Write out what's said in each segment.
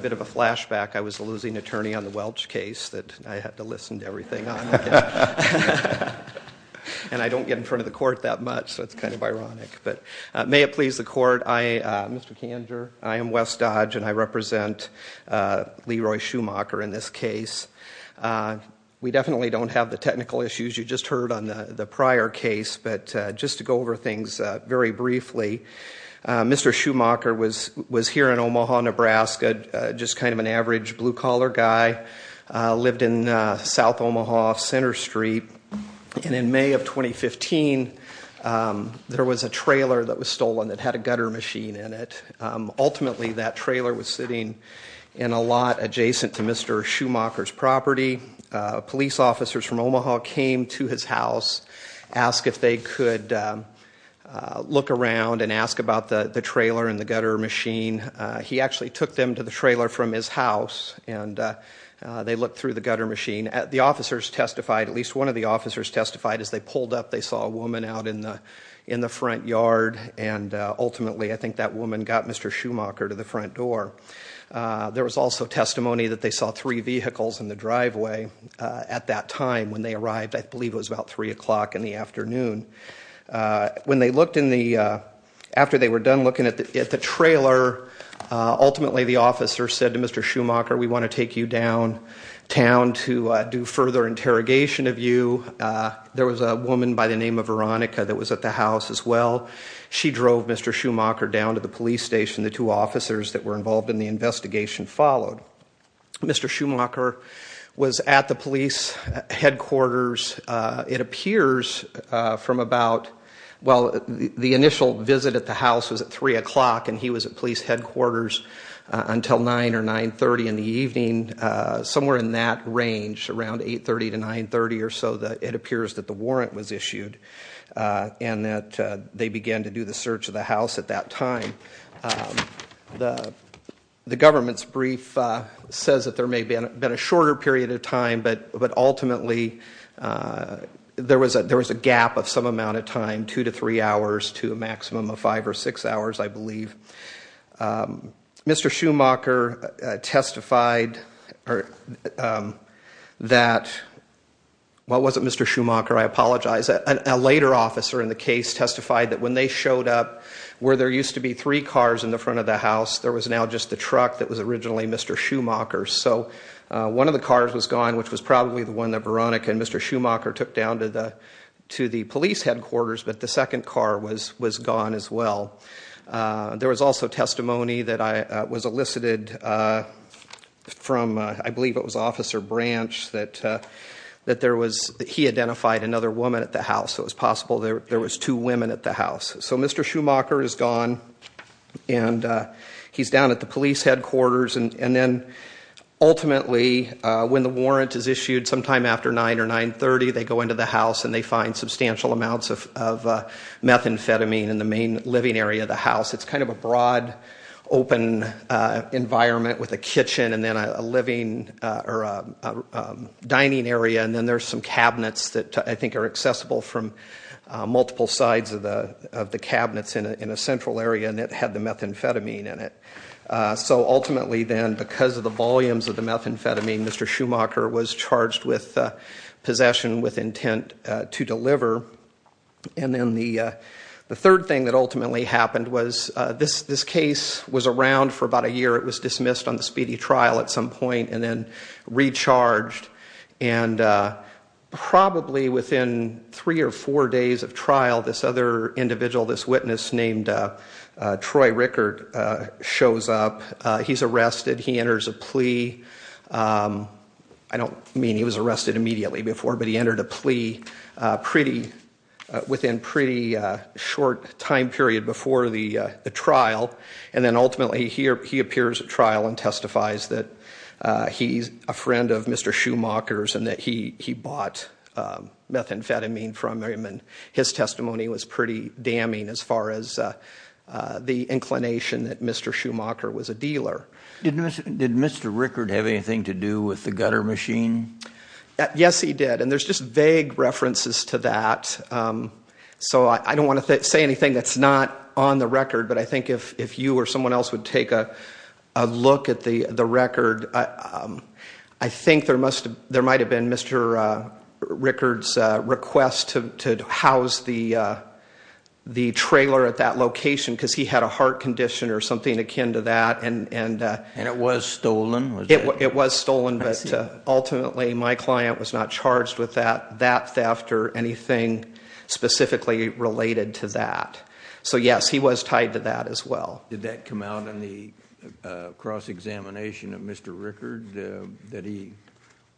I was the losing attorney on the Welch case that I had to listen to everything on. And I don't get in front of the court that much, so it's kind of ironic. But may it please the court, Mr. Kanger, I am Wes Dodge, and I represent Leroy Shumaker in this case. We definitely don't have the technical issues you just heard on the prior case, but just to go over things very briefly, Mr. Shumaker was here in Omaha, Nebraska, just kind of an average blue-collar guy, lived in South Omaha, Center Street. And in May of 2015, there was a trailer that was stolen that had a gutter machine in it. Ultimately, that trailer was sitting in a lot adjacent to Mr. Shumaker's property. Police officers from Omaha came to his house, asked if they could look around and ask about the trailer and the gutter machine. He actually took them to the trailer from his house, and they looked through the gutter machine. The officers testified, at least one of the officers testified, as they pulled up, they saw a woman out in the front yard. And ultimately, I think that woman got Mr. Shumaker to the front door. There was also testimony that they saw three vehicles in the driveway at that time when they arrived. I believe it was about 3 o'clock in the afternoon. When they looked in the – after they were done looking at the trailer, ultimately the officer said to Mr. Shumaker, we want to take you downtown to do further interrogation of you. There was a woman by the name of Veronica that was at the house as well. She drove Mr. Shumaker down to the police station. The two officers that were involved in the investigation followed. Mr. Shumaker was at the police headquarters. It appears from about – well, the initial visit at the house was at 3 o'clock, and he was at police headquarters until 9 or 9.30 in the evening. Somewhere in that range, around 8.30 to 9.30 or so, it appears that the warrant was issued and that they began to do the search of the house at that time. The government's brief says that there may have been a shorter period of time, but ultimately there was a gap of some amount of time, 2 to 3 hours to a maximum of 5 or 6 hours, I believe. Mr. Shumaker testified that – well, it wasn't Mr. Shumaker. I apologize. A later officer in the case testified that when they showed up, where there used to be three cars in the front of the house, there was now just the truck that was originally Mr. Shumaker's. So one of the cars was gone, which was probably the one that Veronica and Mr. Shumaker took down to the police headquarters, but the second car was gone as well. There was also testimony that was elicited from, I believe it was Officer Branch, that he identified another woman at the house. It was possible there was two women at the house. So Mr. Shumaker is gone, and he's down at the police headquarters, and then ultimately when the warrant is issued sometime after 9 or 9.30, they go into the house and they find substantial amounts of methamphetamine in the main living area of the house. It's kind of a broad, open environment with a kitchen and then a dining area, and then there's some cabinets that I think are accessible from multiple sides of the cabinets in a central area, and it had the methamphetamine in it. So ultimately then, because of the volumes of the methamphetamine, Mr. Shumaker was charged with possession with intent to deliver. And then the third thing that ultimately happened was this case was around for about a year. It was dismissed on the speedy trial at some point and then recharged, and probably within three or four days of trial, this other individual, this witness named Troy Rickert shows up. He's arrested. He enters a plea. I don't mean he was arrested immediately before, but he entered a plea within a pretty short time period before the trial, and then ultimately he appears at trial and testifies that he's a friend of Mr. Shumaker's and that he bought methamphetamine from him, and his testimony was pretty damning as far as the inclination that Mr. Shumaker was a dealer. Did Mr. Rickert have anything to do with the gutter machine? Yes, he did, and there's just vague references to that. So I don't want to say anything that's not on the record, but I think if you or someone else would take a look at the record, I think there might have been Mr. Rickert's request to house the trailer at that location because he had a heart condition or something akin to that. And it was stolen? It was stolen, but ultimately my client was not charged with that theft or anything specifically related to that. So yes, he was tied to that as well. Did that come out in the cross-examination of Mr. Rickert, that he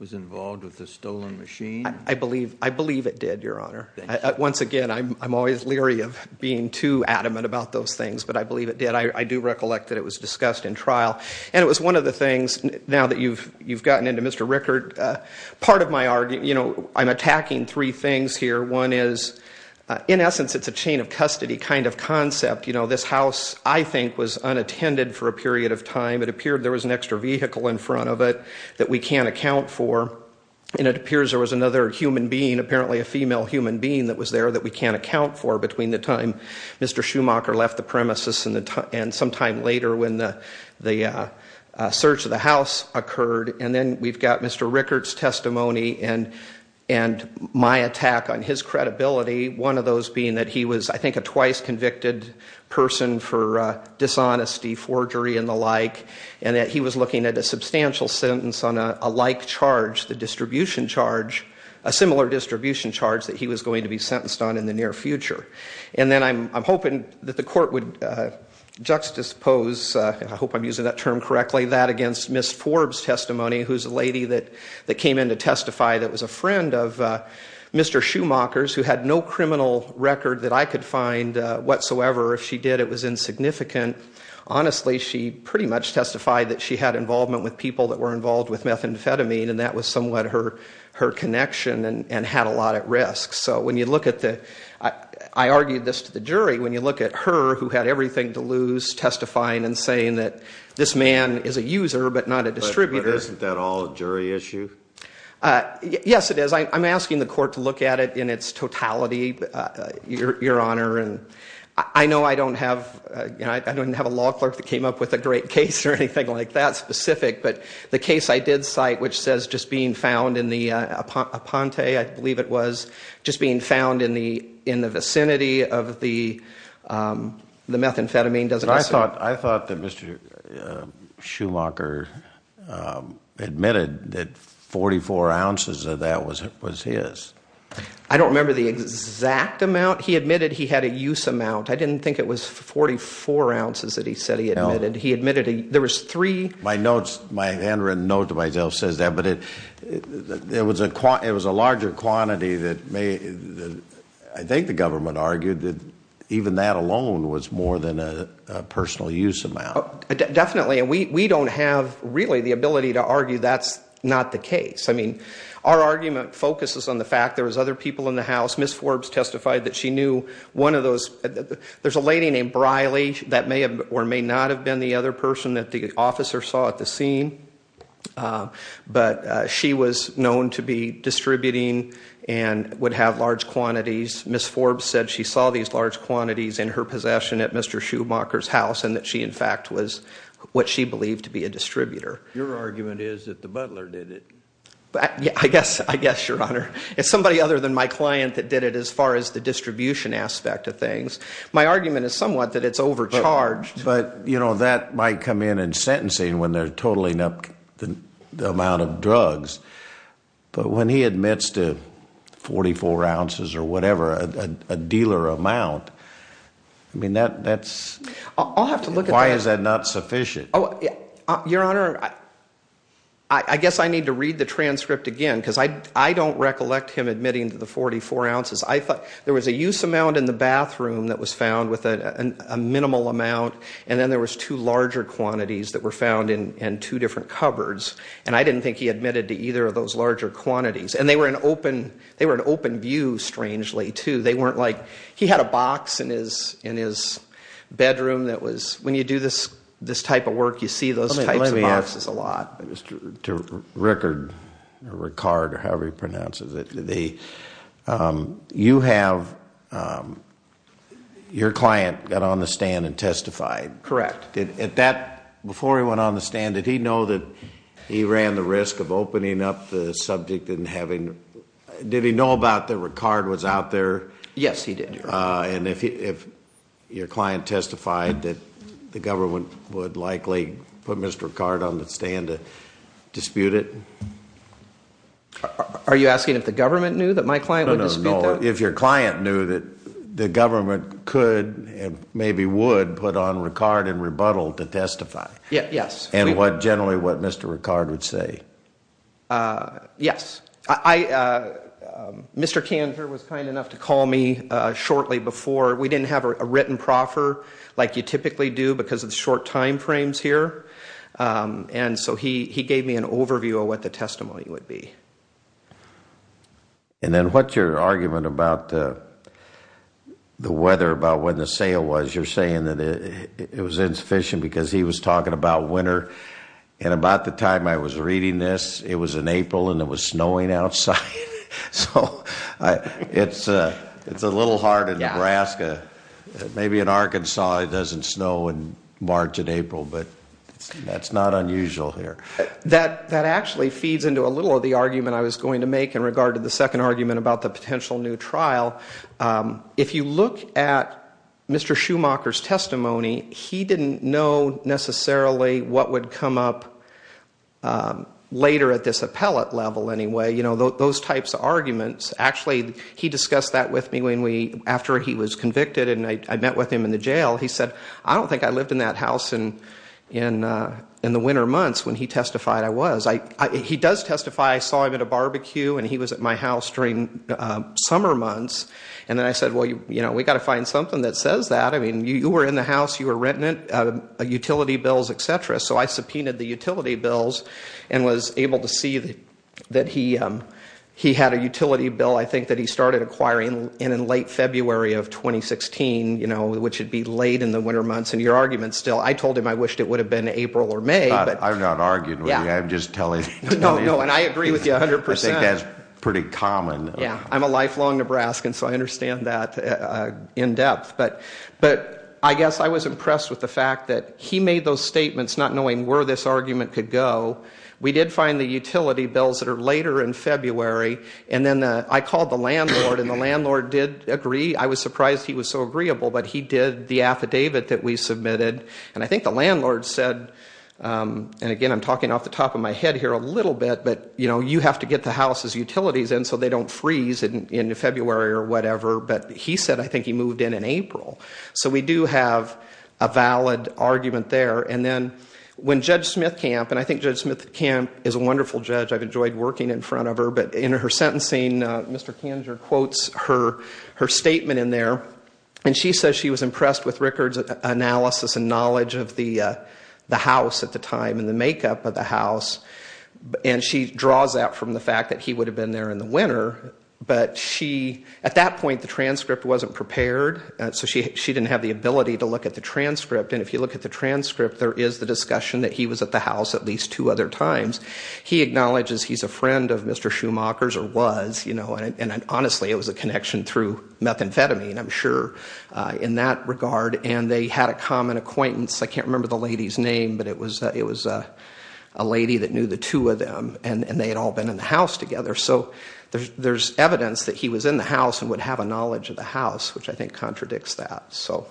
was involved with the stolen machine? I believe it did, Your Honor. Once again, I'm always leery of being too adamant about those things, but I believe it did. I do recollect that it was discussed in trial. And it was one of the things, now that you've gotten into Mr. Rickert, part of my argument, you know, I'm attacking three things here. One is, in essence, it's a chain of custody kind of concept. You know, this house, I think, was unattended for a period of time. It appeared there was an extra vehicle in front of it that we can't account for, and it appears there was another human being, apparently a female human being, that was there that we can't account for between the time Mr. Schumacher left the premises and sometime later when the search of the house occurred. And then we've got Mr. Rickert's testimony and my attack on his credibility, one of those being that he was, I think, a twice convicted person for dishonesty, forgery, and the like, and that he was looking at a substantial sentence on a like charge, the distribution charge, a similar distribution charge that he was going to be sentenced on in the near future. And then I'm hoping that the court would juxtapose, I hope I'm using that term correctly, that against Ms. Forbes' testimony, who's a lady that came in to testify that was a friend of Mr. Schumacher's who had no criminal record that I could find whatsoever. If she did, it was insignificant. Honestly, she pretty much testified that she had involvement with people that were involved with methamphetamine, and that was somewhat her connection and had a lot at risk. So when you look at the, I argued this to the jury, when you look at her, who had everything to lose testifying and saying that this man is a user but not a distributor. But isn't that all a jury issue? Yes, it is. I'm asking the court to look at it in its totality, Your Honor. I know I don't have a law clerk that came up with a great case or anything like that specific, but the case I did cite which says just being found in the Aponte, I believe it was, just being found in the vicinity of the methamphetamine doesn't. I thought that Mr. Schumacher admitted that 44 ounces of that was his. I don't remember the exact amount. He admitted he had a use amount. I didn't think it was 44 ounces that he said he admitted. He admitted there was three. My handwritten note to myself says that, but it was a larger quantity that I think the government argued that even that alone was more than a personal use amount. Definitely, and we don't have really the ability to argue that's not the case. I mean, our argument focuses on the fact there was other people in the House. Ms. Forbes testified that she knew one of those. There's a lady named Briley that may or may not have been the other person that the officer saw at the scene, but she was known to be distributing and would have large quantities. Ms. Forbes said she saw these large quantities in her possession at Mr. Schumacher's house and that she, in fact, was what she believed to be a distributor. Your argument is that the butler did it. I guess, Your Honor. It's somebody other than my client that did it as far as the distribution aspect of things. My argument is somewhat that it's overcharged. But, you know, that might come in in sentencing when they're totaling up the amount of drugs, but when he admits to 44 ounces or whatever, a dealer amount, I mean, that's— I'll have to look at that. Why is that not sufficient? Your Honor, I guess I need to read the transcript again because I don't recollect him admitting to the 44 ounces. I thought there was a use amount in the bathroom that was found with a minimal amount, and then there was two larger quantities that were found in two different cupboards, and I didn't think he admitted to either of those larger quantities. And they were an open view, strangely, too. They weren't like—he had a box in his bedroom that was— when you do this type of work, you see those types of boxes a lot. Let me ask Mr. Rickard or however he pronounces it. You have—your client got on the stand and testified. Correct. Before he went on the stand, did he know that he ran the risk of opening up the subject and having— Yes, he did, Your Honor. And if your client testified that the government would likely put Mr. Rickard on the stand to dispute it? Are you asking if the government knew that my client would dispute that? No, no, no. If your client knew that the government could and maybe would put on Rickard and rebuttal to testify? Yes. And generally what Mr. Rickard would say? Yes. Mr. Kanter was kind enough to call me shortly before. We didn't have a written proffer like you typically do because of the short time frames here. And so he gave me an overview of what the testimony would be. And then what's your argument about the weather, about when the sale was? You're saying that it was insufficient because he was talking about winter. And about the time I was reading this, it was in April and it was snowing outside. So it's a little hard in Nebraska. Maybe in Arkansas it doesn't snow in March and April, but that's not unusual here. That actually feeds into a little of the argument I was going to make in regard to the second argument about the potential new trial. If you look at Mr. Schumacher's testimony, he didn't know necessarily what would come up later at this appellate level anyway. You know, those types of arguments. Actually, he discussed that with me after he was convicted and I met with him in the jail. He said, I don't think I lived in that house in the winter months when he testified I was. He does testify I saw him at a barbecue and he was at my house during summer months. And then I said, well, you know, we've got to find something that says that. I mean, you were in the house, you were renting it, utility bills, et cetera. So I subpoenaed the utility bills and was able to see that he had a utility bill, I think, that he started acquiring in late February of 2016, you know, which would be late in the winter months. And your argument still, I told him I wished it would have been April or May. I'm not arguing with you, I'm just telling you. No, no, and I agree with you 100%. I think that's pretty common. Yeah, I'm a lifelong Nebraskan, so I understand that in depth. But I guess I was impressed with the fact that he made those statements not knowing where this argument could go. We did find the utility bills that are later in February. And then I called the landlord and the landlord did agree. I was surprised he was so agreeable, but he did the affidavit that we submitted. And I think the landlord said, and again I'm talking off the top of my head here a little bit, but, you know, you have to get the house's utilities in so they don't freeze in February or whatever. But he said I think he moved in in April. So we do have a valid argument there. And then when Judge Smithkamp, and I think Judge Smithkamp is a wonderful judge. I've enjoyed working in front of her. But in her sentencing, Mr. Kanger quotes her statement in there. And she says she was impressed with Rickard's analysis and knowledge of the house at the time and the makeup of the house. And she draws that from the fact that he would have been there in the winter. But she, at that point the transcript wasn't prepared. So she didn't have the ability to look at the transcript. And if you look at the transcript, there is the discussion that he was at the house at least two other times. He acknowledges he's a friend of Mr. Schumacher's or was. And honestly, it was a connection through methamphetamine, I'm sure, in that regard. And they had a common acquaintance. I can't remember the lady's name, but it was a lady that knew the two of them. And they had all been in the house together. So there's evidence that he was in the house and would have a knowledge of the house, which I think contradicts that. So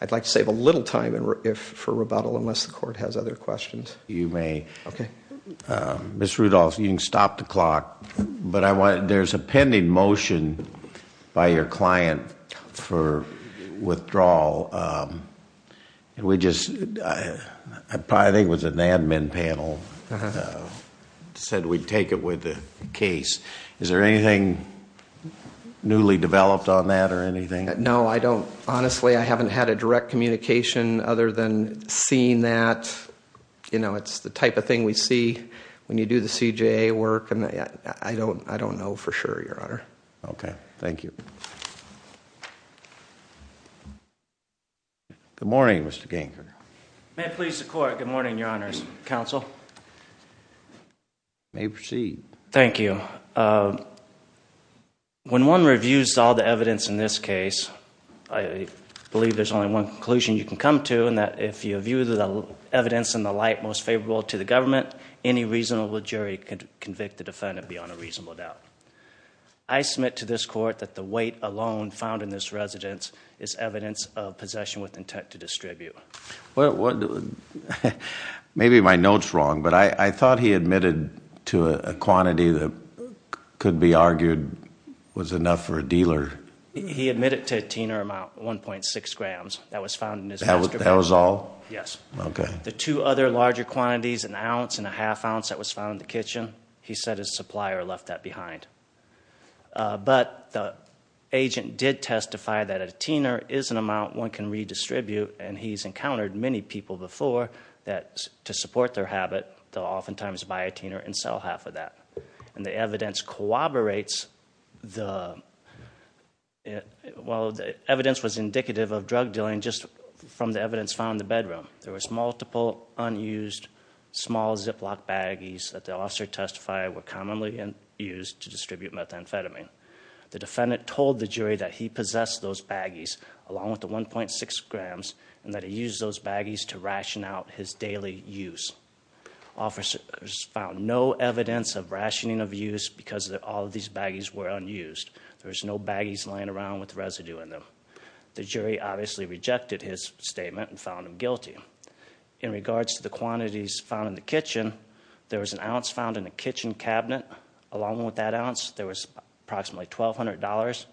I'd like to save a little time for rebuttal unless the court has other questions. Okay. Ms. Rudolph, you can stop the clock, but there's a pending motion by your client for withdrawal. And we just, I think it was an admin panel, said we'd take it with the case. Is there anything newly developed on that or anything? No, I don't. Honestly, I haven't had a direct communication other than seeing that. You know, it's the type of thing we see when you do the CJA work. And I don't know for sure, Your Honor. Okay. Thank you. Good morning, Mr. Ganker. May it please the Court. Good morning, Your Honors. Counsel. You may proceed. Thank you. When one reviews all the evidence in this case, I believe there's only one conclusion you can come to, and that if you view the evidence in the light most favorable to the government, any reasonable jury can convict the defendant beyond a reasonable doubt. I submit to this Court that the weight alone found in this residence is evidence of possession with intent to distribute. Maybe my note's wrong, but I thought he admitted to a quantity that could be argued was enough for a dealer. He admitted to a teener amount, 1.6 grams. That was found in his master bedroom. That was all? Yes. Okay. The two other larger quantities, an ounce and a half ounce that was found in the kitchen, he said his supplier left that behind. But the agent did testify that a teener is an amount one can redistribute, and he's encountered many people before that, to support their habit, they'll oftentimes buy a teener and sell half of that. And the evidence corroborates the, well, the evidence was indicative of drug dealing just from the evidence found in the bedroom. There was multiple unused small Ziploc baggies that the officer testified were commonly used to distribute methamphetamine. The defendant told the jury that he possessed those baggies, along with the 1.6 grams, and that he used those baggies to ration out his daily use. Officers found no evidence of rationing of use because all of these baggies were unused. There was no baggies lying around with residue in them. The jury obviously rejected his statement and found him guilty. In regards to the quantities found in the kitchen, there was an ounce found in the kitchen cabinet. Along with that ounce, there was approximately $1,200,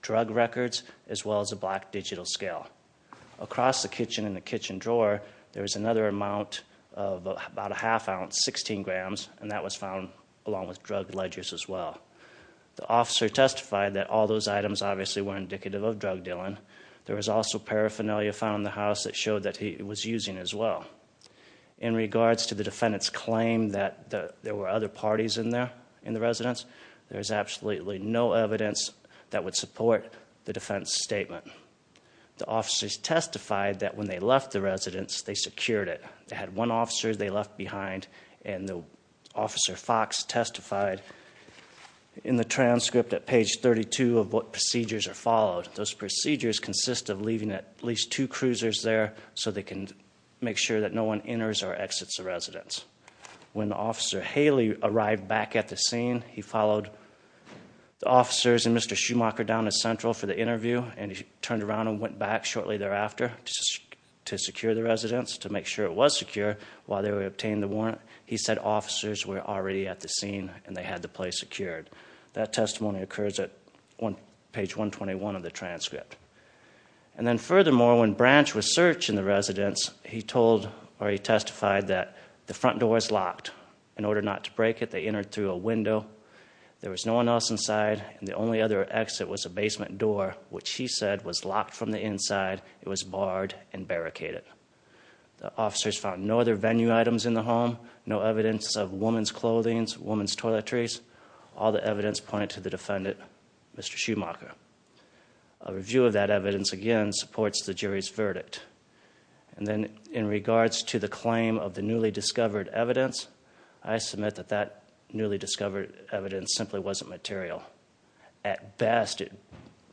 drug records, as well as a black digital scale. Across the kitchen in the kitchen drawer, there was another amount of about a half ounce, 16 grams, and that was found along with drug ledgers as well. The officer testified that all those items obviously were indicative of drug dealing. There was also paraphernalia found in the house that showed that he was using as well. In regards to the defendant's claim that there were other parties in there, in the residence, there is absolutely no evidence that would support the defense statement. The officers testified that when they left the residence, they secured it. They had one officer they left behind, and Officer Fox testified in the transcript at page 32 of what procedures are followed. Those procedures consist of leaving at least two cruisers there so they can make sure that no one enters or exits the residence. When Officer Haley arrived back at the scene, he followed the officers and Mr. Schumacher down to Central for the interview, and he turned around and went back shortly thereafter to secure the residence, to make sure it was secure. While they were obtaining the warrant, he said officers were already at the scene and they had the place secured. That testimony occurs at page 121 of the transcript. Furthermore, when Branch was searching the residence, he testified that the front door was locked. In order not to break it, they entered through a window. There was no one else inside, and the only other exit was a basement door, which he said was locked from the inside. It was barred and barricaded. The officers found no other venue items in the home, no evidence of woman's clothing, woman's toiletries. All the evidence pointed to the defendant, Mr. Schumacher. A review of that evidence, again, supports the jury's verdict. And then in regards to the claim of the newly discovered evidence, I submit that that newly discovered evidence simply wasn't material. At best, it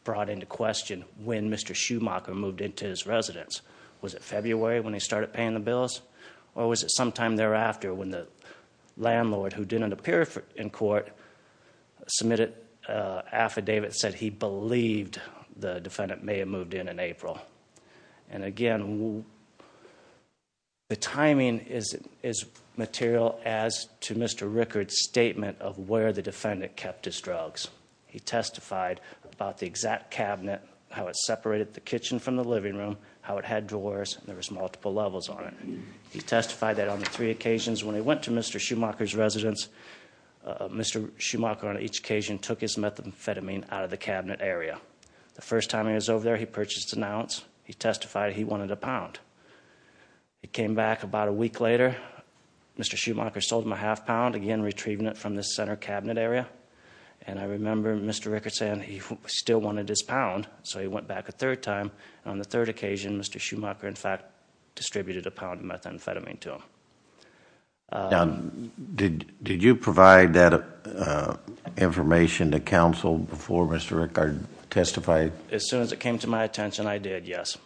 brought into question when Mr. Schumacher moved into his residence. Was it February when he started paying the bills, or was it sometime thereafter when the landlord, who didn't appear in court, submitted an affidavit that said he believed the defendant may have moved in in April? And again, the timing is material as to Mr. Rickard's statement of where the defendant kept his drugs. He testified about the exact cabinet, how it separated the kitchen from the living room, how it had drawers, and there was multiple levels on it. He testified that on three occasions. When he went to Mr. Schumacher's residence, Mr. Schumacher, on each occasion, took his methamphetamine out of the cabinet area. The first time he was over there, he purchased an ounce. He testified he wanted a pound. He came back about a week later. Mr. Schumacher sold him a half pound, again, retrieving it from the center cabinet area. And I remember Mr. Rickard saying he still wanted his pound, so he went back a third time. On the third occasion, Mr. Schumacher, in fact, distributed a pound of methamphetamine to him. Now, did you provide that information to counsel before Mr. Rickard testified? As soon as it came to my attention, I did, yes.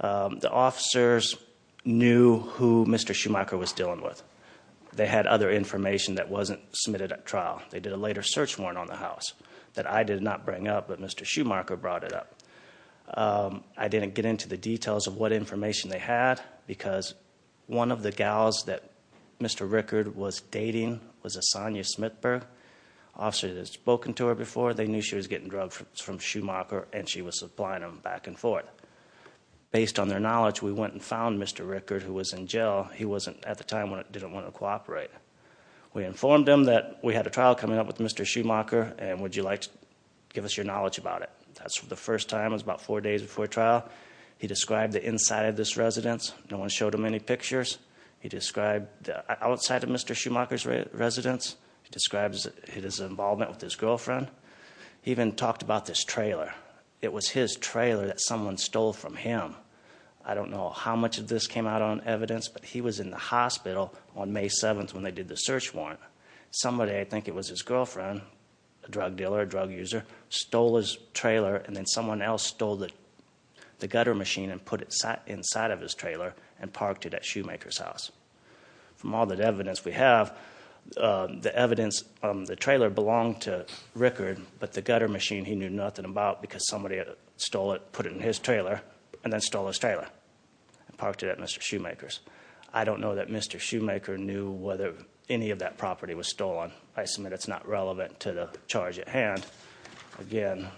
The officers knew who Mr. Schumacher was dealing with. They had other information that wasn't submitted at trial. They did a later search warrant on the house that I did not bring up, but Mr. Schumacher brought it up. I didn't get into the details of what information they had because one of the gals that Mr. Rickard was dating was a Sonia Smithberg. Officers had spoken to her before. They knew she was getting drugs from Schumacher, and she was supplying them back and forth. Based on their knowledge, we went and found Mr. Rickard, who was in jail. He wasn't, at the time, didn't want to cooperate. We informed him that we had a trial coming up with Mr. Schumacher, and would you like to give us your knowledge about it? The first time was about four days before trial. He described the inside of this residence. No one showed him any pictures. He described the outside of Mr. Schumacher's residence. He described his involvement with his girlfriend. He even talked about this trailer. It was his trailer that someone stole from him. I don't know how much of this came out on evidence, but he was in the hospital on May 7th when they did the search warrant. Somebody, I think it was his girlfriend, a drug dealer, a drug user, stole his trailer, and then someone else stole the gutter machine and put it inside of his trailer and parked it at Schumacher's house. From all the evidence we have, the trailer belonged to Rickard, but the gutter machine he knew nothing about because somebody put it in his trailer and then stole his trailer and parked it at Mr. Schumacher's. I don't know that Mr. Schumacher knew whether any of that property was stolen. I submit it's not relevant to the charge at hand. Again,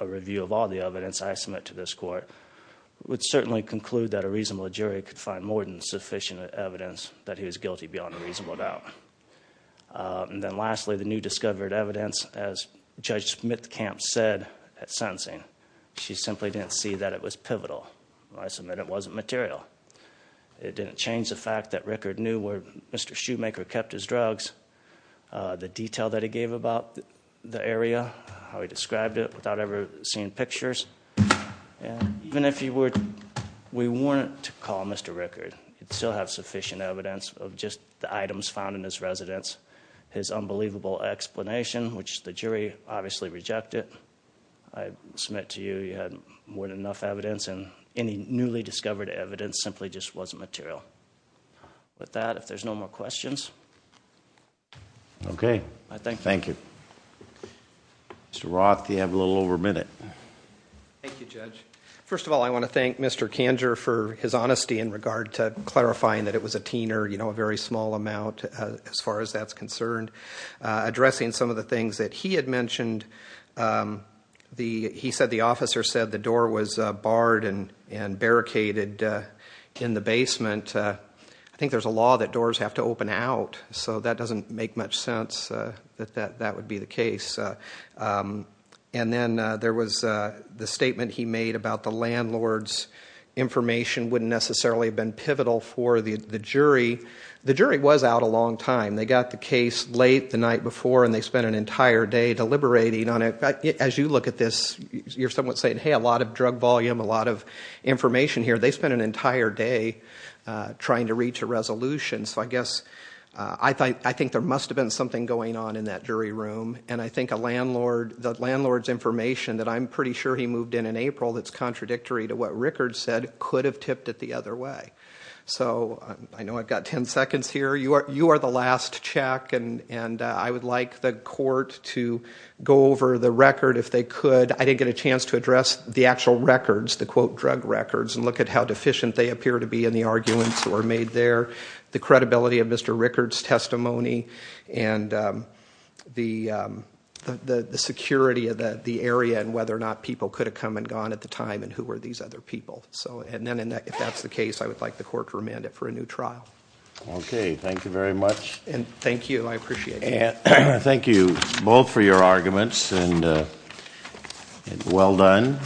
a review of all the evidence I submit to this court would certainly conclude that a reasonable jury could find more than sufficient evidence that he was guilty beyond a reasonable doubt. And then lastly, the new discovered evidence, as Judge Smithkamp said at sentencing, she simply didn't see that it was pivotal. I submit it wasn't material. It didn't change the fact that Rickard knew where Mr. Schumacher kept his drugs, the detail that he gave about the area, how he described it without ever seeing pictures. And even if we weren't to call Mr. Rickard, he'd still have sufficient evidence of just the items found in his residence, his unbelievable explanation, which the jury obviously rejected. I submit to you he had more than enough evidence, and any newly discovered evidence simply just wasn't material. With that, if there's no more questions. Okay. Thank you. Mr. Roth, you have a little over a minute. Thank you, Judge. First of all, I want to thank Mr. Kanger for his honesty in regard to clarifying that it was a teen or a very small amount, as far as that's concerned. Addressing some of the things that he had mentioned, he said the officer said the door was barred and barricaded in the basement. I think there's a law that doors have to open out, so that doesn't make much sense that that would be the case. And then there was the statement he made about the landlord's information wouldn't necessarily have been pivotal for the jury. The jury was out a long time. They got the case late the night before, and they spent an entire day deliberating on it. As you look at this, you're somewhat saying, hey, a lot of drug volume, a lot of information here. They spent an entire day trying to reach a resolution. So I guess I think there must have been something going on in that jury room, and I think the landlord's information that I'm pretty sure he moved in in April that's contradictory to what Rickard said could have tipped it the other way. So I know I've got 10 seconds here. You are the last check, and I would like the court to go over the record if they could. I didn't get a chance to address the actual records, the, quote, drug records, and look at how deficient they appear to be in the arguments that were made there, the credibility of Mr. Rickard's testimony, and the security of the area and whether or not people could have come and gone at the time and who were these other people. And then if that's the case, I would like the court to remand it for a new trial. Okay. Thank you very much. And thank you. I appreciate it. Thank you both for your arguments, and well done.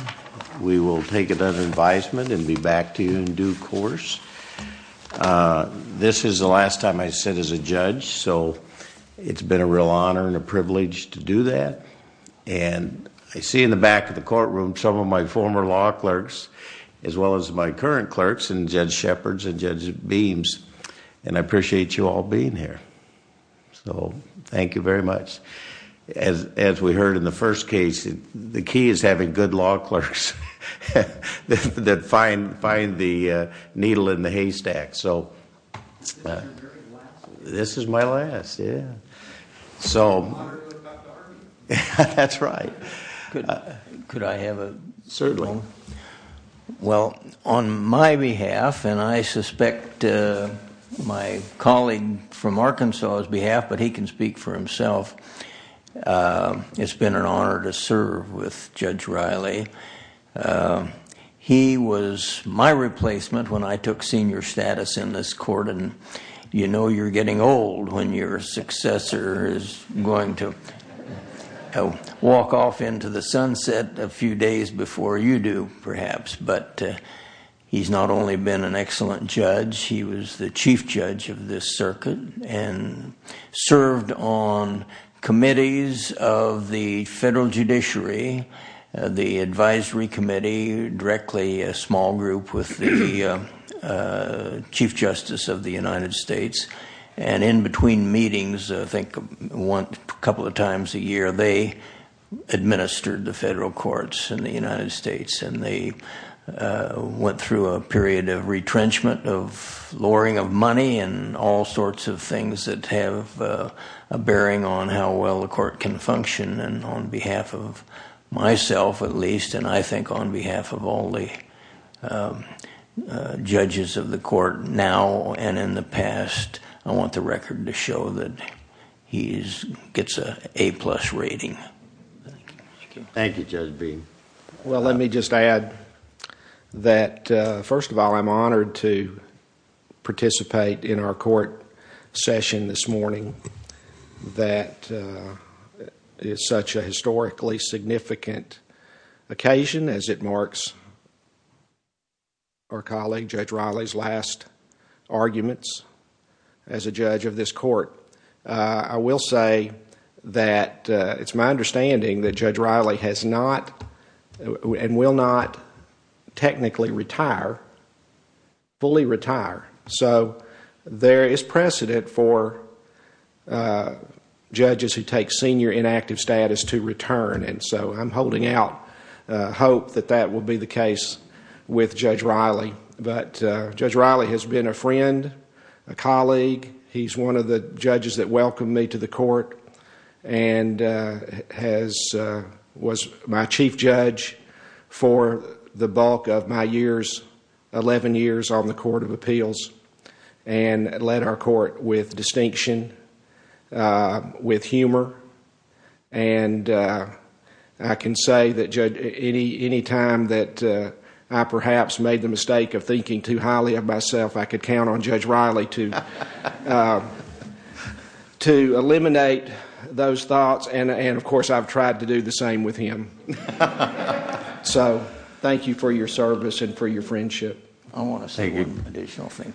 We will take it as advisement and be back to you in due course. This is the last time I sit as a judge, so it's been a real honor and a privilege to do that. And I see in the back of the courtroom some of my former law clerks as well as my current clerks and Judge Shepherds and Judge Beams, and I appreciate you all being here. So thank you very much. As we heard in the first case, the key is having good law clerks that find the needle in the haystack. So this is my last. So that's right. Could I have a moment? Well, on my behalf, and I suspect my colleague from Arkansas's behalf, but he can speak for himself, it's been an honor to serve with Judge Riley. He was my replacement when I took senior status in this court, and you know you're getting old when your successor is going to walk off into the sunset a few days before you do, perhaps. But he's not only been an excellent judge, he was the chief judge of this circuit and served on committees of the federal judiciary, the advisory committee, directly a small group with the Chief Justice of the United States, and in between meetings, I think a couple of times a year, they administered the federal courts in the United States, and they went through a period of retrenchment, of lowering of money, and all sorts of things that have a bearing on how well the court can function. And on behalf of myself, at least, and I think on behalf of all the judges of the court now and in the past, I want the record to show that he gets an A-plus rating. Thank you, Judge Bean. Well, let me just add that, first of all, I'm honored to participate in our court session this morning. That is such a historically significant occasion as it marks our colleague Judge Riley's last arguments as a judge of this court. I will say that it's my understanding that Judge Riley has not and will not technically retire, fully retire. So there is precedent for judges who take senior inactive status to return, and so I'm holding out hope that that will be the case with Judge Riley. But Judge Riley has been a friend, a colleague. He's one of the judges that welcomed me to the court and was my chief judge for the bulk of my years, 11 years on the Court of Appeals, and led our court with distinction, with humor, and I can say that, Judge, any time that I perhaps made the mistake of thinking too highly of myself, I could count on Judge Riley to eliminate those thoughts, and of course I've tried to do the same with him. So thank you for your service and for your friendship. I want to say one additional thing.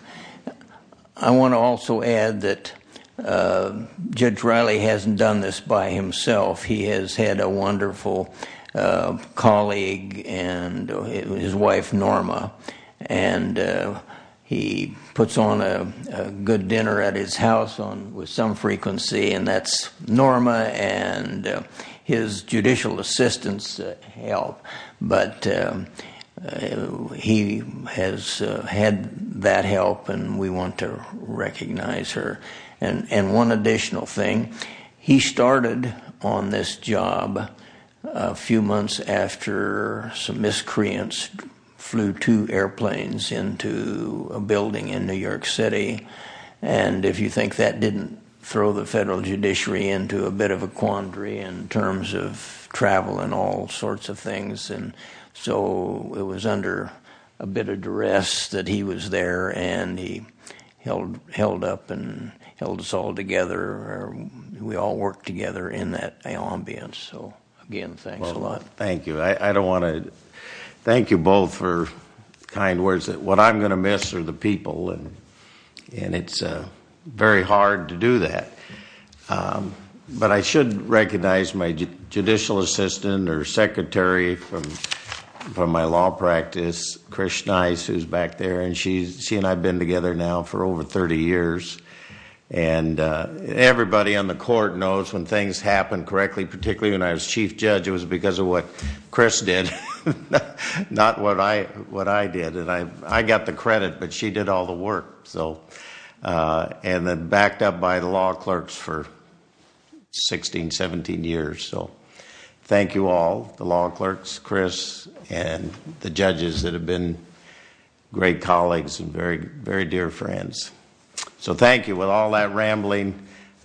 I want to also add that Judge Riley hasn't done this by himself. He has had a wonderful colleague, his wife Norma, and he puts on a good dinner at his house with some frequency, and that's Norma and his judicial assistants' help. But he has had that help, and we want to recognize her. And one additional thing. He started on this job a few months after some miscreants flew two airplanes into a building in New York City, and if you think that didn't throw the federal judiciary into a bit of a quandary in terms of travel and all sorts of things, and so it was under a bit of duress that he was there, and he held up and held us all together. We all worked together in that ambience. So again, thanks a lot. Thank you. I don't want to thank you both for kind words. What I'm going to miss are the people, and it's very hard to do that. But I should recognize my judicial assistant or secretary from my law practice, Chris Nice, who's back there, and she and I have been together now for over 30 years. And everybody on the court knows when things happen correctly, particularly when I was chief judge, it was because of what Chris did, not what I did. And I got the credit, but she did all the work. And then backed up by the law clerks for 16, 17 years. So thank you all, the law clerks, Chris, and the judges that have been great colleagues and very dear friends. So thank you. With all that rambling.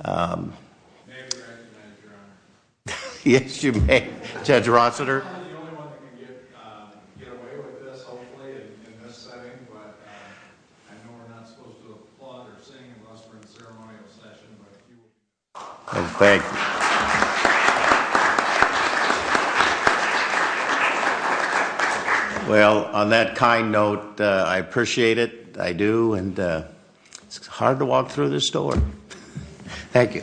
May I be recognized, Your Honor? Yes, you may. Judge Rossiter. I'm not the only one who can get away with this, hopefully, in this setting, but I know we're not supposed to applaud or sing unless we're in a ceremonial session, but if you would. Thank you. Well, on that kind note, I appreciate it. I do, and it's hard to walk through this door. Thank you.